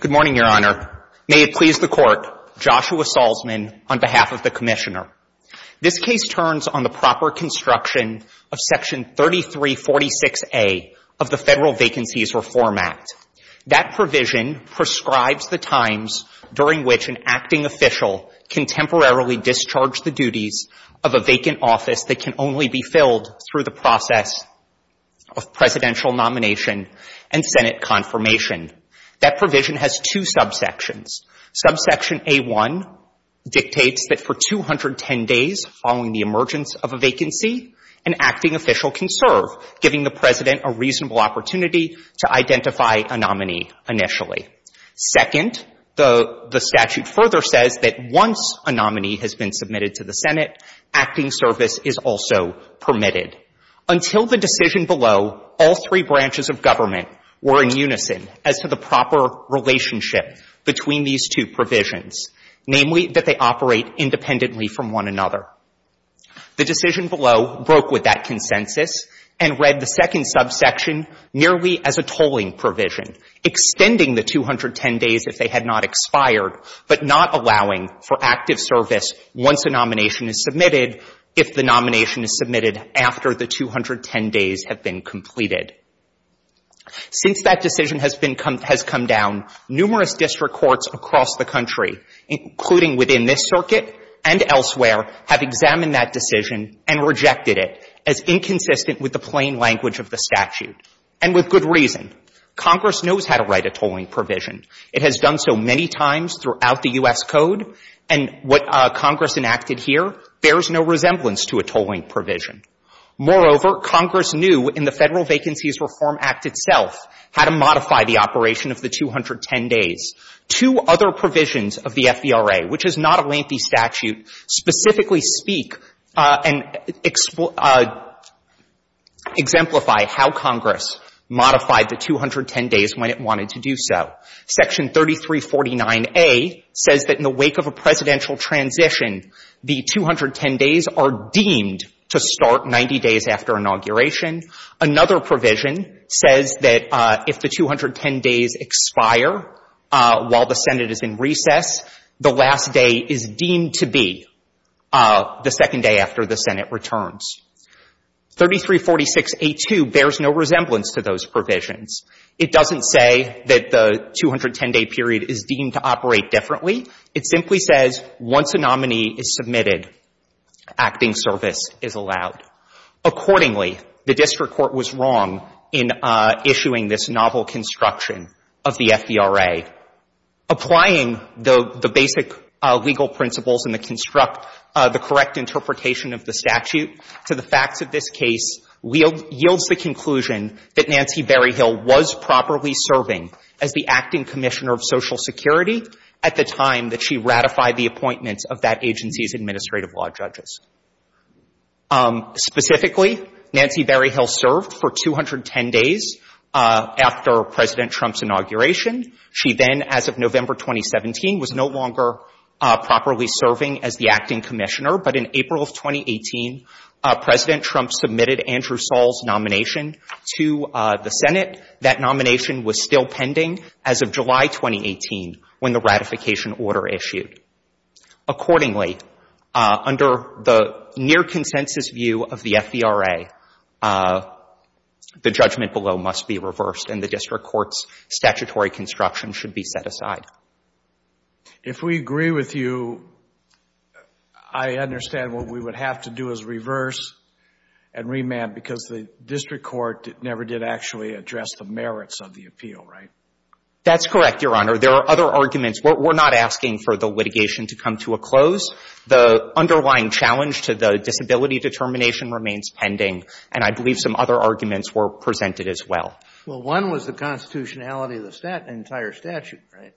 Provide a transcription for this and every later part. Good morning, Your Honor. May it please the Court, Joshua Salzman, on behalf of the Commissioner. This case turns on the proper construction of Section 3346A of the Federal Vacancies Reform Act. That provision prescribes the times during which an acting official can temporarily discharge the duties of a vacant office that can only be filled through the Senate confirmation. That provision has two subsections. Subsection A-1 dictates that for 210 days following the emergence of a vacancy, an acting official can serve, giving the President a reasonable opportunity to identify a nominee initially. Second, the statute further says that once a nominee has been submitted to the Senate, acting service is also permitted. Until the decision below, all three branches of government were in unison as to the proper relationship between these two provisions, namely, that they operate independently from one another. The decision below broke with that consensus and read the second subsection nearly as a tolling provision, extending the 210 days if they had not expired, but not allowing for active service once a nomination is submitted if the nomination is submitted after the 210 days have been completed. Since that decision has been come — has come down, numerous district courts across the country, including within this circuit and elsewhere, have examined that decision and rejected it as inconsistent with the plain language of the statute, and with good reason. Congress knows how to write a tolling provision. It has done so many times throughout the U.S. Code, and what Congress enacted here bears no resemblance to a tolling provision. Moreover, Congress knew in the Federal Vacancies Reform Act itself how to modify the operation of the 210 days. Two other provisions of the FVRA, which is not a lengthy statute, specifically speak and exemplify how Congress modified the 210 days when it wanted to do so. Section 3349A says that in the wake of a presidential to start 90 days after inauguration. Another provision says that if the 210 days expire while the Senate is in recess, the last day is deemed to be the second day after the Senate returns. 3346A2 bears no resemblance to those provisions. It doesn't say that the 210-day period is deemed to operate differently. It simply says once a nominee is submitted, acting service is allowed. Accordingly, the district court was wrong in issuing this novel construction of the FVRA. Applying the basic legal principles and the construct, the correct interpretation of the statute to the facts of this case yields the conclusion that Nancy Berryhill was properly serving as the acting commissioner of Social Security at the time that she ratified the appointments of that agency's administrative law judges. Specifically, Nancy Berryhill served for 210 days after President Trump's inauguration. She then, as of November 2017, was no longer properly serving as the acting commissioner. But in April of 2018, President Trump submitted Andrew Saul's nomination to the Senate. That nomination was still pending as of July 2018 when the ratification order issued. Accordingly, under the near consensus view of the FVRA, the judgment below must be reversed and the district court's statutory construction should be set aside. If we agree with you, I understand what we would have to do is reverse and remand because the district court never did actually address the merits of the appeal, right? That's correct, Your Honor. There are other arguments. We're not asking for the litigation to come to a close. The underlying challenge to the disability determination remains pending, and I believe some other arguments were presented as well. Well, one was the constitutionality of the entire statute, right?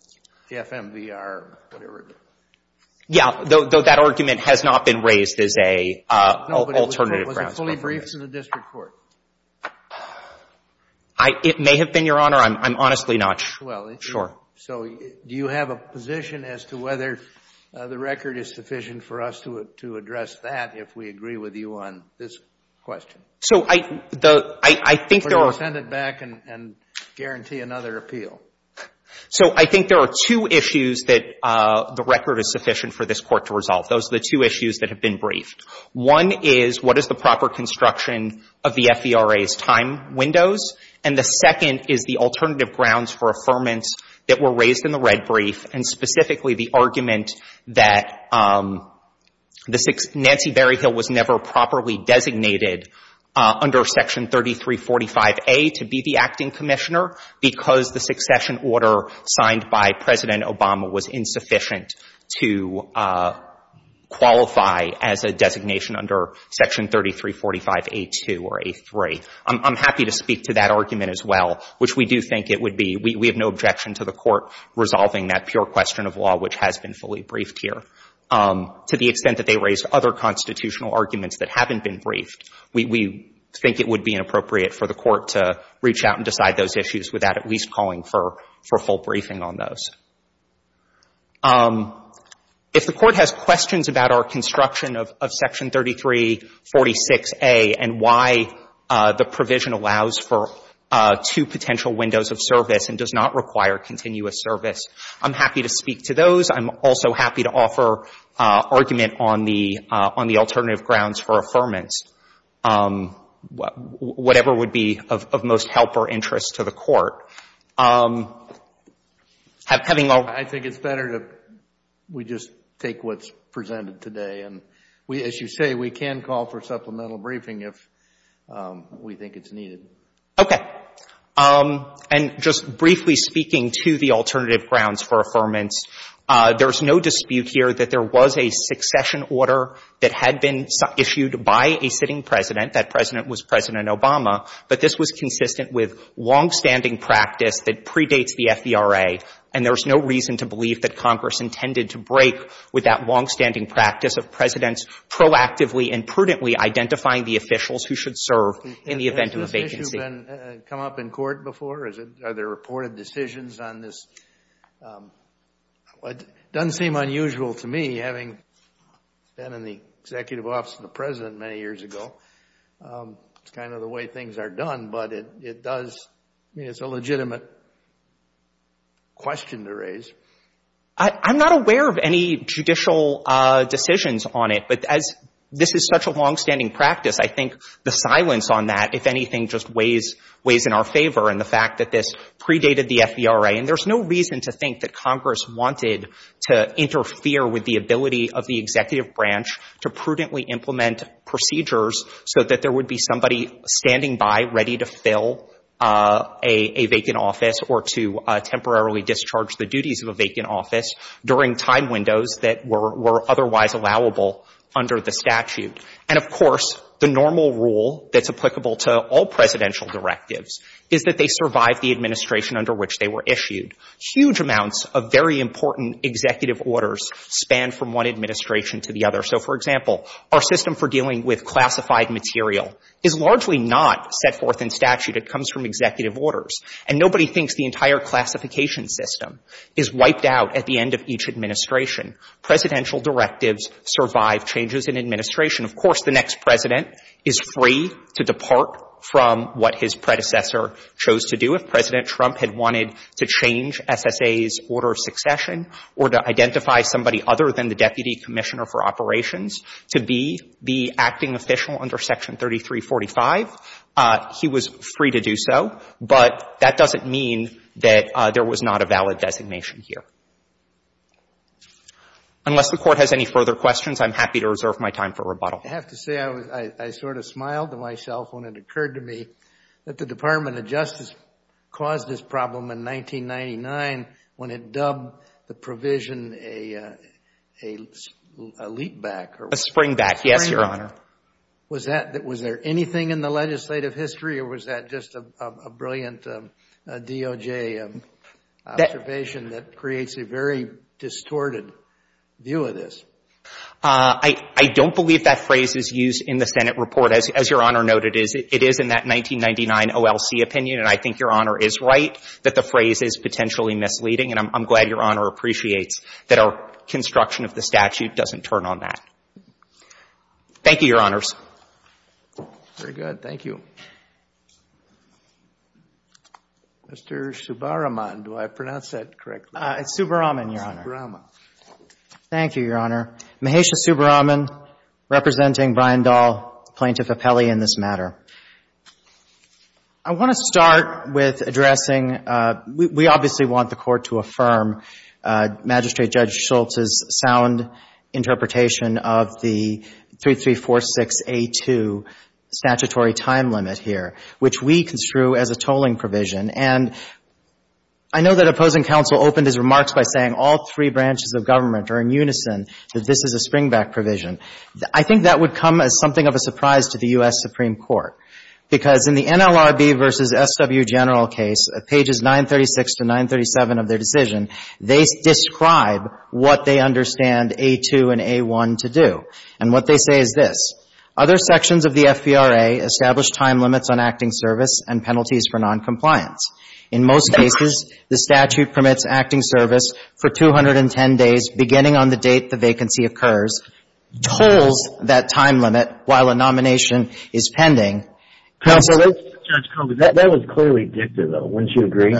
The FMVR, whatever. Yeah, though that argument has not been raised as an alternative grounds. No, but was it fully briefed to the district court? It may have been, Your Honor. I'm honestly not sure. So do you have a position as to whether the record is sufficient for us to address that if we agree with you on this question? Or do you want to send it back and guarantee another appeal? So I think there are two issues that the record is sufficient for this Court to resolve. Those are the two issues that have been briefed. One is what is the proper construction of the FERA's time windows, and the second is the alternative grounds for affirmance that were raised in the red brief, and specifically the argument that Nancy Berryhill was never properly designated under Section 3345A to be the acting commissioner because the succession order signed by President Obama was insufficient to qualify as a designation under Section 3345A2 or A3. I'm happy to speak to that argument as well, which we do think it would be. We have no objection to the Court resolving that pure question of law which has been fully briefed here. To the extent that they raised other constitutional arguments that haven't been briefed, we think it would be inappropriate for the Court to reach out and decide those issues without at least calling for full briefing on those. If the Court has questions about our construction of Section 3346A and why the provision allows for two potential windows of service and does not require continuous service, I'm happy to speak to those. I'm also happy to offer argument on the alternative grounds for affirmance, whatever would be of most help or interest to the Court. I think it's better if we just take what's presented today. As you say, we can call for supplemental briefing if we think it's needed. Okay. And just briefly speaking to the alternative grounds for affirmance, there's no dispute here that there was a succession order that had been issued by a sitting President. That President was President Obama. But this was consistent with longstanding practice that predates the FVRA. And there's no reason to believe that Congress intended to break with that longstanding practice of Presidents proactively and prudently identifying the officials who should serve in the event of a vacancy. Have these issues come up in court before? Are there reported decisions on this? It doesn't seem unusual to me, having been in the Executive Office of the President many years ago. It's kind of the way things are done. But it does, I mean, it's a legitimate question to raise. I'm not aware of any judicial decisions on it. But as this is such a longstanding practice, I think the silence on that, if anything, just weighs in our favor in the fact that this predated the FVRA. And there's no reason to think that Congress wanted to interfere with the ability of the Executive Branch to prudently implement procedures so that there would be somebody standing by ready to fill a vacant office or to temporarily discharge the duties of a vacant office during time windows that were otherwise allowable under the statute. And, of course, the normal rule that's applicable to all presidential directives is that they survive the administration under which they were issued. Huge amounts of very important executive orders span from one administration to the other. So, for example, our system for dealing with classified material is largely not set forth in statute. It comes from executive orders. And nobody thinks the entire classification system is wiped out at the end of each administration. Presidential directives survive changes in administration. Of course, the next President is free to depart from what his predecessor chose to do. If President Trump had wanted to change SSA's order of succession or to identify somebody other than the Deputy Commissioner for Operations to be the acting official under Section 3345, he was free to do so. But that doesn't mean that there was not a valid designation here. Unless the Court has any further questions, I'm happy to reserve my time for rebuttal. I have to say I sort of smiled to myself when it occurred to me that the Department of Justice caused this problem in 1999 when it dubbed the provision a leap back. A springback, yes, Your Honor. Was there anything in the legislative history or was that just a brilliant DOJ observation that creates a very distorted view of this? I don't believe that phrase is used in the Senate report. As Your Honor noted, it is in that 1999 OLC opinion, and I think Your Honor is right that the phrase is potentially misleading. And I'm glad Your Honor appreciates that our construction of the statute doesn't turn on that. Thank you, Your Honors. Very good. Thank you. Mr. Subbaraman, do I pronounce that correctly? Subbaraman, Your Honor. Subbaraman. Thank you, Your Honor. Mahesha Subbaraman, representing Brian Dahl, plaintiff appellee in this matter. I want to start with addressing we obviously want the Court to affirm Magistrate Judge Schultz's sound interpretation of the 3346A2 statutory time limit here, which we construe as a tolling provision. And I know that opposing counsel opened his remarks by saying all three branches of government are in unison that this is a springback provision. I think that would come as something of a surprise to the U.S. Supreme Court, because in the NLRB v. SW General case, pages 936 to 937 of their decision, they describe what they understand A2 and A1 to do. And what they say is this. Other sections of the FVRA establish time limits on acting service and penalties for noncompliance. In most cases, the statute permits acting service for 210 days beginning on the date the vacancy occurs, tolls that time limit while a nomination is pending. Counsel, let's ---- Judge, that was clearly dicta, though. Wouldn't you agree?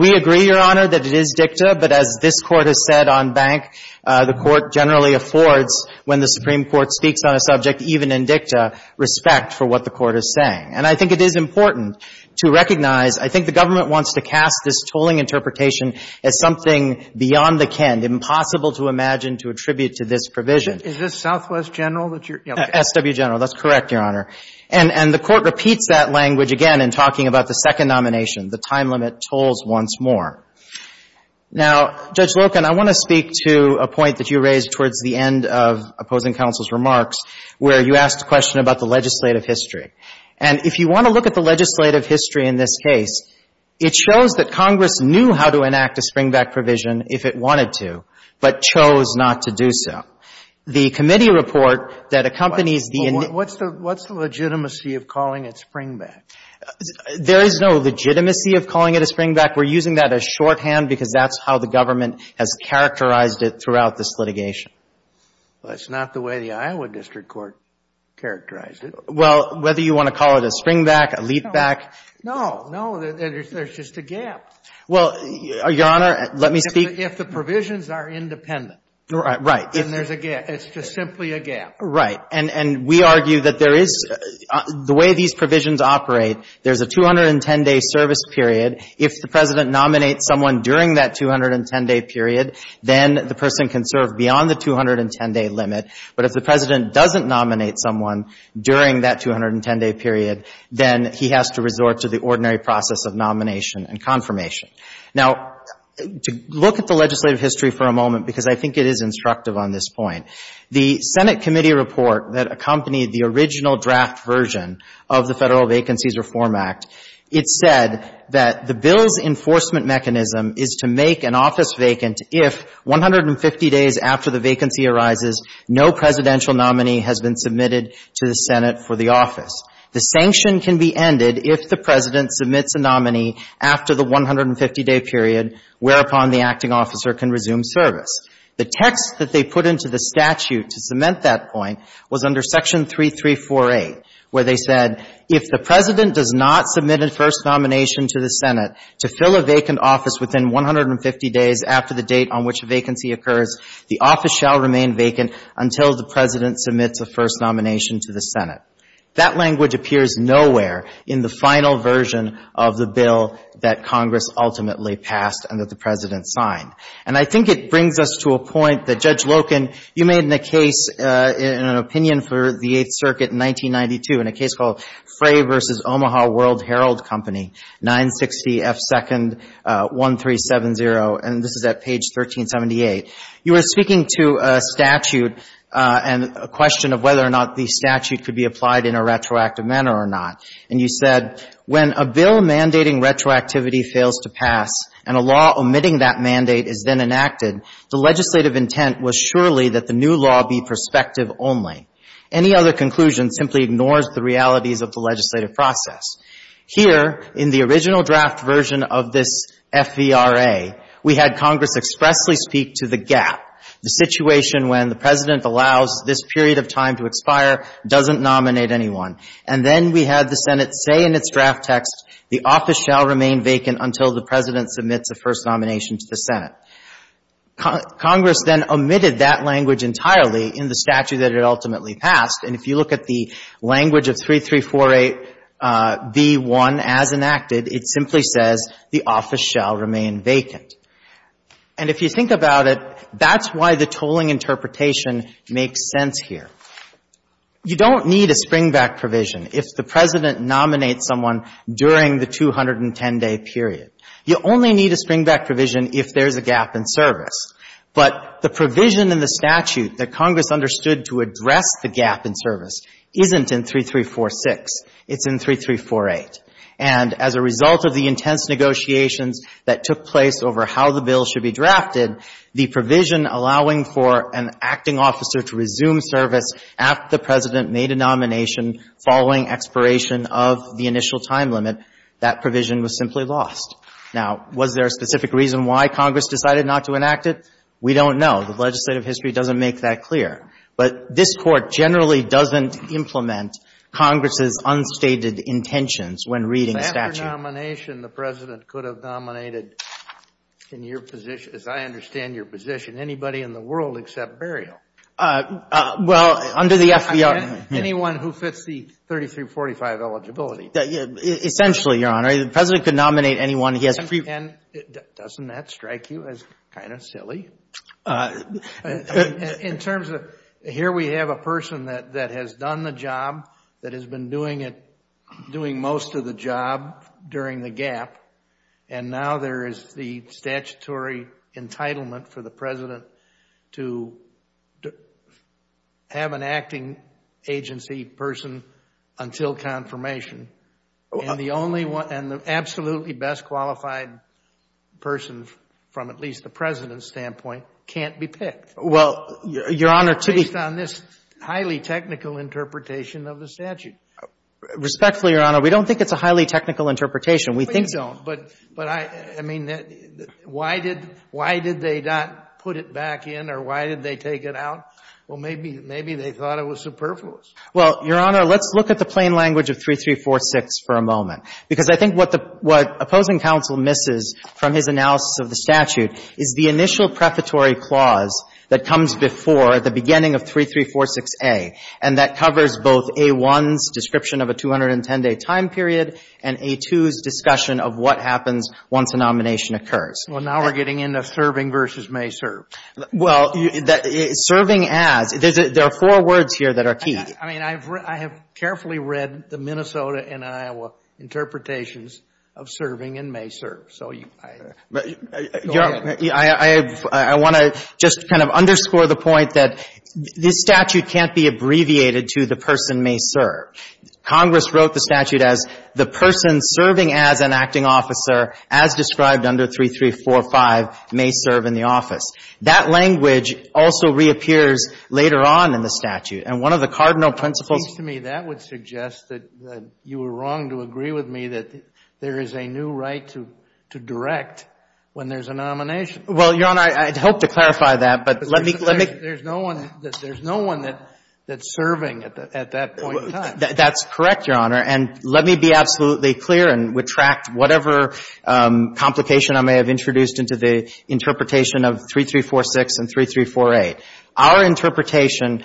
We agree, Your Honor, that it is dicta. But as this Court has said on Bank, the Court generally affords, when the Supreme Court speaks on a subject even in dicta, respect for what the Court is saying. And I think it is important to recognize, I think the government wants to cast this tolling interpretation as something beyond the ken, impossible to imagine to attribute to this provision. Is this Southwest General that you're ---- SW General. That's correct, Your Honor. And the Court repeats that language again in talking about the second nomination, the time limit tolls once more. Now, Judge Loken, I want to speak to a point that you raised towards the end of opposing counsel's remarks, where you asked a question about the legislative history. And if you want to look at the legislative history in this case, it shows that Congress knew how to enact a springback provision if it wanted to, but chose not to do so. The committee report that accompanies the ---- What's the legitimacy of calling it springback? There is no legitimacy of calling it a springback. We're using that as shorthand because that's how the government has characterized it throughout this litigation. Well, that's not the way the Iowa district court characterized it. Well, whether you want to call it a springback, a leap back ---- No, no. There's just a gap. Well, Your Honor, let me speak ---- If the provisions are independent. Right. And there's a gap. It's just simply a gap. Right. And we argue that there is ---- the way these provisions operate, there's a 210-day service period. If the President nominates someone during that 210-day period, then the person can serve beyond the 210-day limit. But if the President doesn't nominate someone during that 210-day period, then he has to resort to the ordinary process of nomination and confirmation. Now, to look at the legislative history for a moment, because I think it is instructive on this point, the Senate committee report that accompanied the original draft version of the Federal Vacancies Reform Act, it said that the bill's enforcement mechanism is to make an office vacant if 150 days after the vacancy arises, no presidential nominee has been submitted to the Senate for the office. The sanction can be ended if the President submits a nominee after the 150-day period, whereupon the acting officer can resume service. The text that they put into the statute to cement that point was under Section 3348, where they said, if the President does not submit a first nomination to the Senate to fill a vacant office within 150 days after the date on which a vacancy occurs, the office shall remain vacant until the President submits a first nomination to the Senate. That language appears nowhere in the final version of the bill that Congress ultimately passed and that the President signed. And I think it brings us to a point that, Judge Loken, you made in a case, in an opinion for the Eighth Circuit in 1992, in a case called Frey v. Omaha World Herald Company, 960 F. Second 1370, and this is at page 1378. You were speaking to a statute and a question of whether or not the statute could be applied in a retroactive manner or not. And you said, when a bill mandating retroactivity fails to pass and a law omitting that mandate is then enacted, the legislative intent was surely that the new law be prospective only. Any other conclusion simply ignores the realities of the legislative process. Here, in the original draft version of this FVRA, we had Congress expressly speak to the gap, the situation when the President allows this period of time to expire, doesn't nominate anyone. And then we had the Senate say in its draft text, the office shall remain vacant until the President submits a first nomination to the Senate. Congress then omitted that language entirely in the statute that it ultimately passed. And if you look at the language of 3348B1 as enacted, it simply says, the office shall remain vacant. And if you think about it, that's why the tolling interpretation makes sense here. You don't need a springback provision if the President nominates someone during the 210-day period. You only need a springback provision if there's a gap in service. But the provision in the statute that Congress understood to address the gap in service isn't in 3346. It's in 3348. And as a result of the intense negotiations that took place over how the bill should be drafted, the provision allowing for an acting officer to resume service after the President made a nomination following expiration of the initial time limit, that provision was simply lost. Now, was there a specific reason why Congress decided not to enact it? We don't know. The legislative history doesn't make that clear. But this Court generally doesn't implement Congress's unstated intentions when reading the statute. Kennedy. But after nomination, the President could have nominated, in your position, as I understand your position, anybody in the world except Burial. Well, under the FVR. Anyone who fits the 3345 eligibility. Essentially, Your Honor. The President could nominate anyone he has. Doesn't that strike you as kind of silly? In terms of, here we have a person that has done the job, that has been doing it, doing most of the job during the gap, and now there is the statutory entitlement for the President to have an acting agency person until confirmation. And the only one, and the absolutely best qualified person, from at least the President's standpoint, can't be picked. Well, Your Honor. Based on this highly technical interpretation of the statute. Respectfully, Your Honor, we don't think it's a highly technical interpretation. We think it is. Please don't. But I mean, why did they not put it back in, or why did they take it out? Well, maybe they thought it was superfluous. Well, Your Honor, let's look at the plain language of 3346 for a moment. Because I think what opposing counsel misses from his analysis of the statute is the initial prefatory clause that comes before the beginning of 3346A, and that happens once a nomination occurs. Well, now we're getting into serving versus may serve. Well, serving as. There are four words here that are key. I mean, I have carefully read the Minnesota and Iowa interpretations of serving and may serve. So go ahead. I want to just kind of underscore the point that this statute can't be abbreviated to the person may serve. Congress wrote the statute as the person serving as an acting officer, as described under 3345, may serve in the office. That language also reappears later on in the statute. And one of the cardinal principles. It seems to me that would suggest that you were wrong to agree with me that there is a new right to direct when there's a nomination. Well, Your Honor, I'd hope to clarify that, but let me, let me. There's no one that's serving at that point in time. That's correct, Your Honor. And let me be absolutely clear and retract whatever complication I may have introduced into the interpretation of 3346 and 3348. Our interpretation,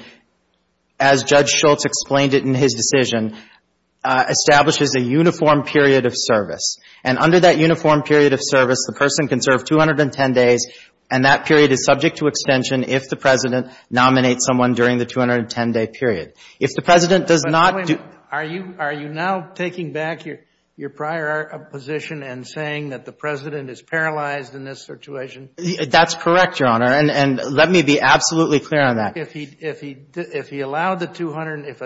as Judge Schultz explained it in his decision, establishes a uniform period of service. And under that uniform period of service, the person can serve 210 days, and that president nominates someone during the 210-day period. If the president does not do. Wait a minute. Are you now taking back your prior position and saying that the president is paralyzed in this situation? That's correct, Your Honor. And let me be absolutely clear on that. If he allowed the 200, if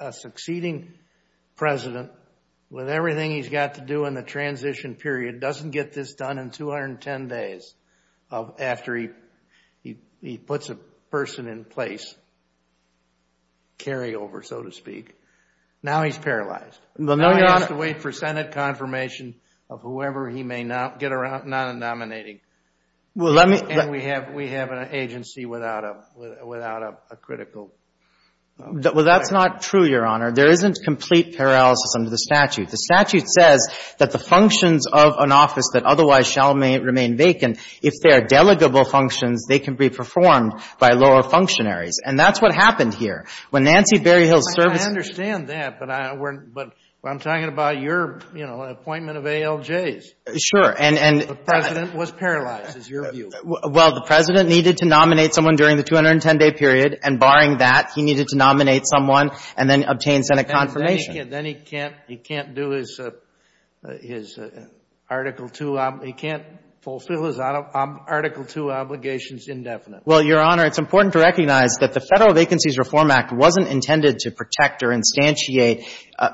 a succeeding president, with everything he's got to do in the place, carry over, so to speak, now he's paralyzed. Well, no, Your Honor. Now he has to wait for Senate confirmation of whoever he may not get around, not nominating. Well, let me. And we have, we have an agency without a, without a critical. Well, that's not true, Your Honor. There isn't complete paralysis under the statute. The statute says that the functions of an office that otherwise shall remain vacant, if they are delegable functions, they can be performed by lower functionaries. And that's what happened here. When Nancy Berryhill served. I understand that, but I, we're, but I'm talking about your, you know, appointment of ALJs. Sure. And, and. The president was paralyzed, is your view. Well, the president needed to nominate someone during the 210-day period, and barring that, he needed to nominate someone and then obtain Senate confirmation. Then he can't, then he can't, he can't do his, his Article II, he can't fulfill his Article II obligations indefinitely. Well, Your Honor, it's important to recognize that the Federal Vacancies Reform Act wasn't intended to protect or instantiate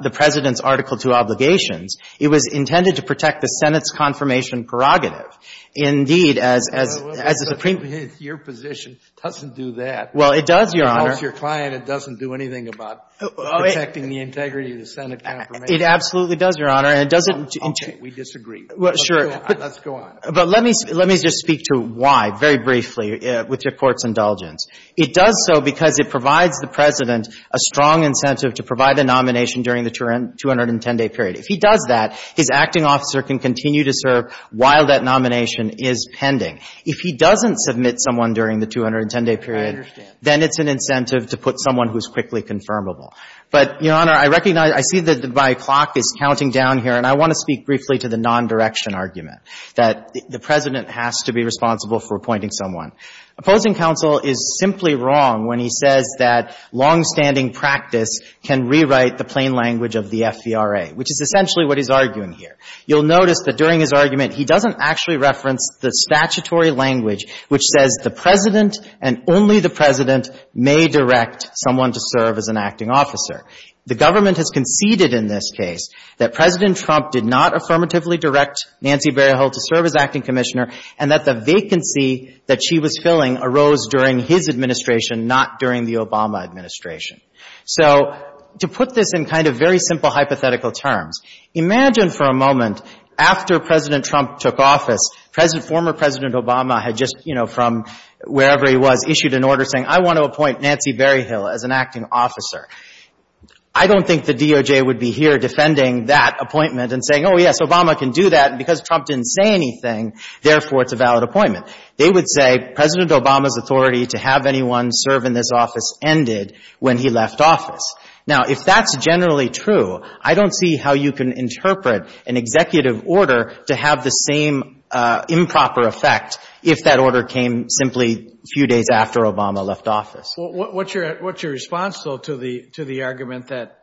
the president's Article II obligations. It was intended to protect the Senate's confirmation prerogative. Indeed, as, as, as a Supreme. Well, it does, Your Honor. It helps your client. It doesn't do anything about protecting the integrity of the Senate confirmation. It absolutely does, Your Honor. And it doesn't. We disagree. Well, sure. Let's go on. But let me, let me just speak to why, very briefly, with your Court's indulgence. It does so because it provides the president a strong incentive to provide a nomination during the 210-day period. If he does that, his acting officer can continue to serve while that nomination is pending. If he doesn't submit someone during the 210-day period. I understand. Then it's an incentive to put someone who's quickly confirmable. But, Your Honor, I recognize, I see that my clock is counting down here, and I want to speak briefly to the non-direction argument, that the president has to be responsible for appointing someone. Opposing counsel is simply wrong when he says that longstanding practice can rewrite the plain language of the FVRA, which is essentially what he's arguing here. You'll notice that during his argument, he doesn't actually reference the statutory language which says the president and only the president may direct someone to serve as an acting officer. The government has conceded in this case that President Trump did not affirmatively direct Nancy Berryhill to serve as acting commissioner, and that the vacancy that she was filling arose during his administration, not during the Obama administration. So, to put this in kind of very simple hypothetical terms, imagine for a moment, after President Trump took office, former President Obama had just, you know, from wherever he was, issued an order saying, I want to appoint Nancy Berryhill as an acting officer. I don't think the DOJ would be here defending that appointment and saying, oh, yes, Obama can do that, and because Trump didn't say anything, therefore, it's a valid appointment. They would say, President Obama's authority to have anyone serve in this office ended when he left office. Now, if that's generally true, I don't see how you can interpret an executive order to have the same improper effect if that order came simply a few days after Obama left office. What's your response, though, to the argument that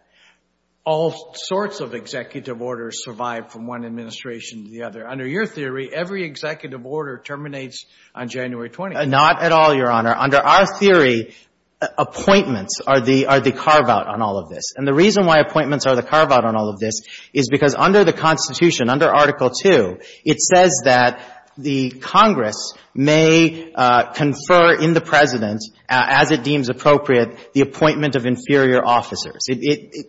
all sorts of executive orders survive from one administration to the other? Under your theory, every executive order terminates on January 20th. Not at all, Your Honor. Under our theory, appointments are the carve-out on all of this, and the reason why appointments are the carve-out on all of this is because under the Constitution, under Article 2, it says that the Congress may confer in the President, as it deems appropriate, the appointment of inferior officers.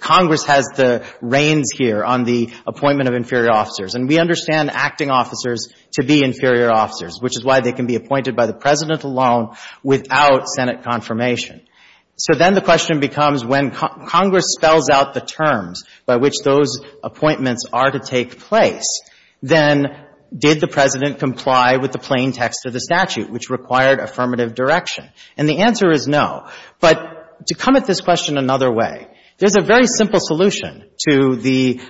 Congress has the reins here on the appointment of inferior officers, and we understand acting officers to be inferior officers, which is why they can be appointed by the President alone without Senate confirmation. So then the question becomes when Congress spells out the terms by which those appointments are to take place, then did the President comply with the plain text of the statute, which required affirmative direction? And the answer is no. But to come at this question another way, there's a very simple solution to the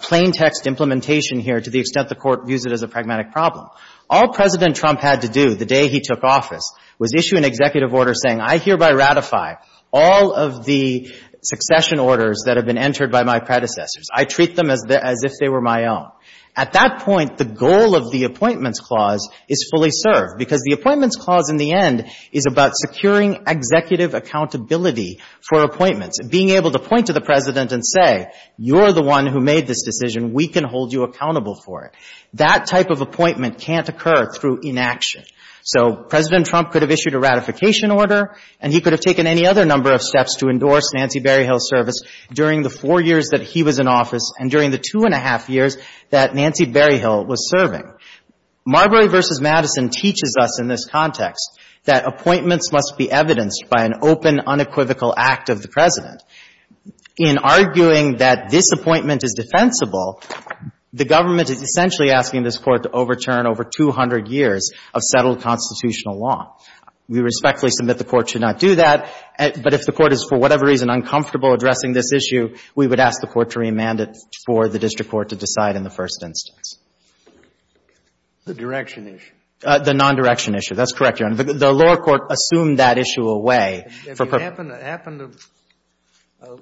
plain text implementation here to the extent the Court views it as a pragmatic problem. All President Trump had to do the day he took office was issue an executive order saying, I hereby ratify all of the succession orders that have been entered by my predecessors. I treat them as if they were my own. At that point, the goal of the Appointments Clause is fully served, because the Appointments Clause in the end is about securing executive accountability for appointments, being able to point to the President and say, you're the one who made this decision. We can hold you accountable for it. That type of appointment can't occur through inaction. So President Trump could have issued a ratification order, and he could have taken any other number of steps to endorse Nancy Berryhill's service during the four years that he was in office and during the two and a half years that Nancy Berryhill was serving. Marbury v. Madison teaches us in this context that appointments must be evidenced by an open, unequivocal act of the President. In arguing that this appointment is defensible, the government is essentially asking this Court to overturn over 200 years of settled constitutional law. We respectfully submit the Court should not do that, but if the Court is for whatever reason uncomfortable addressing this issue, we would ask the Court to remand it for the district court to decide in the first instance. The direction issue. The non-direction issue. That's correct, Your Honor. The lower court assumed that issue away. Have you happened to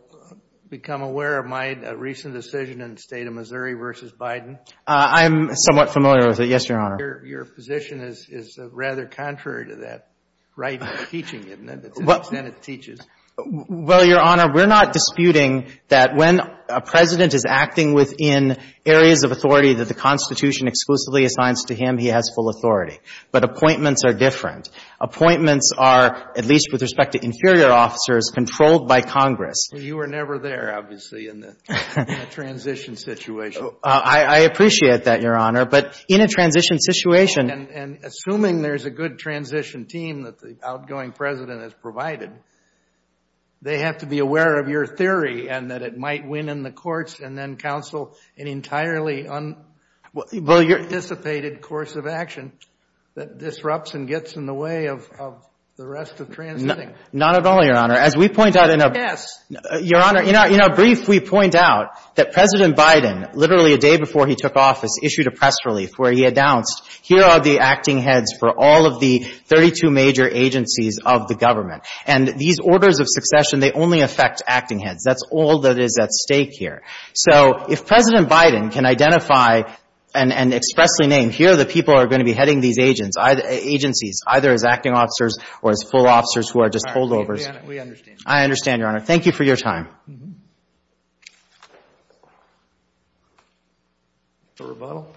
become aware of my recent decision in the State of Missouri v. Biden? I'm somewhat familiar with it, yes, Your Honor. Your position is rather contrary to that right of teaching, isn't it, that the Senate teaches? Well, Your Honor, we're not disputing that when a President is acting within areas of authority that the Constitution exclusively assigns to him, he has full authority. But appointments are different. Appointments are, at least with respect to inferior officers, controlled by Congress. Well, you were never there, obviously, in the transition situation. I appreciate that, Your Honor. But in a transition situation. And assuming there's a good transition team that the outgoing President has provided, they have to be aware of your theory and that it might win in the courts and then counsel an entirely unanticipated course of action that disrupts and gets in the way of the rest of transitioning. Not at all, Your Honor. As we point out in a brief, we point out that President Biden, literally a day before he took office, issued a press relief where he announced, here are the acting heads for all of the 32 major agencies of the government. And these orders of succession, they only affect acting heads. That's all that is at stake here. So if President Biden can identify and expressly name, here are the people who are going to be heading these agencies, either as acting officers or as full officers who are just holdovers. All right. We understand. I understand, Your Honor. Thank you for your time. Mr. Rebuttal?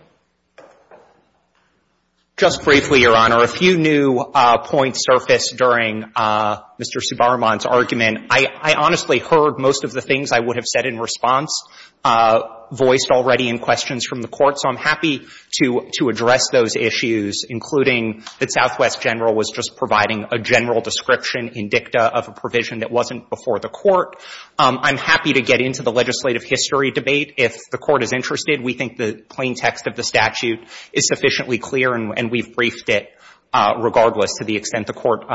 Just briefly, Your Honor, a few new points surfaced during Mr. Subaraman's argument. I honestly heard most of the things I would have said in response voiced already in questions from the Court. So I'm happy to address those issues, including that Southwest General was just providing a general description in dicta of a provision that wasn't before the Court. I'm happy to get into the legislative history debate. If the Court is interested, we think the plain text of the statute is sufficiently clear, and we've briefed it regardless to the extent the Court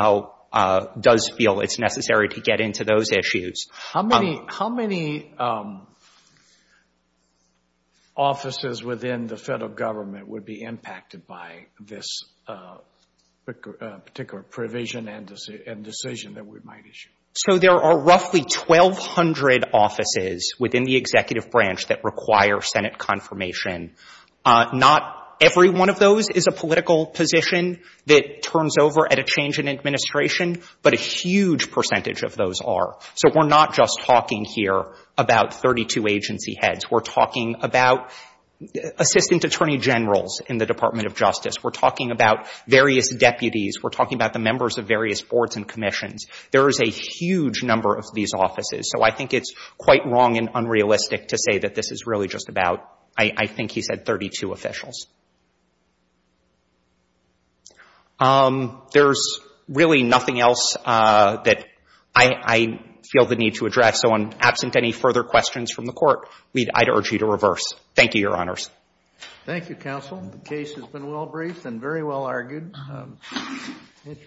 does feel it's necessary to get into those issues. How many offices within the federal government would be impacted by this particular provision and decision that we might issue? So there are roughly 1,200 offices within the executive branch that require Senate confirmation. Not every one of those is a political position that turns over at a change in administration, but a huge percentage of those are. So we're not just talking here about 32 agency heads. We're talking about assistant attorney generals in the Department of Justice. We're talking about various deputies. We're talking about the members of various boards and commissions. There is a huge number of these offices, so I think it's quite wrong and unrealistic to say that this is really just about, I think he said, 32 officials. There's really nothing else that I feel the need to address, so absent any further questions from the Court, I'd urge you to reverse. Thank you, Your Honors. Thank you, counsel. The case has been well briefed and very well argued.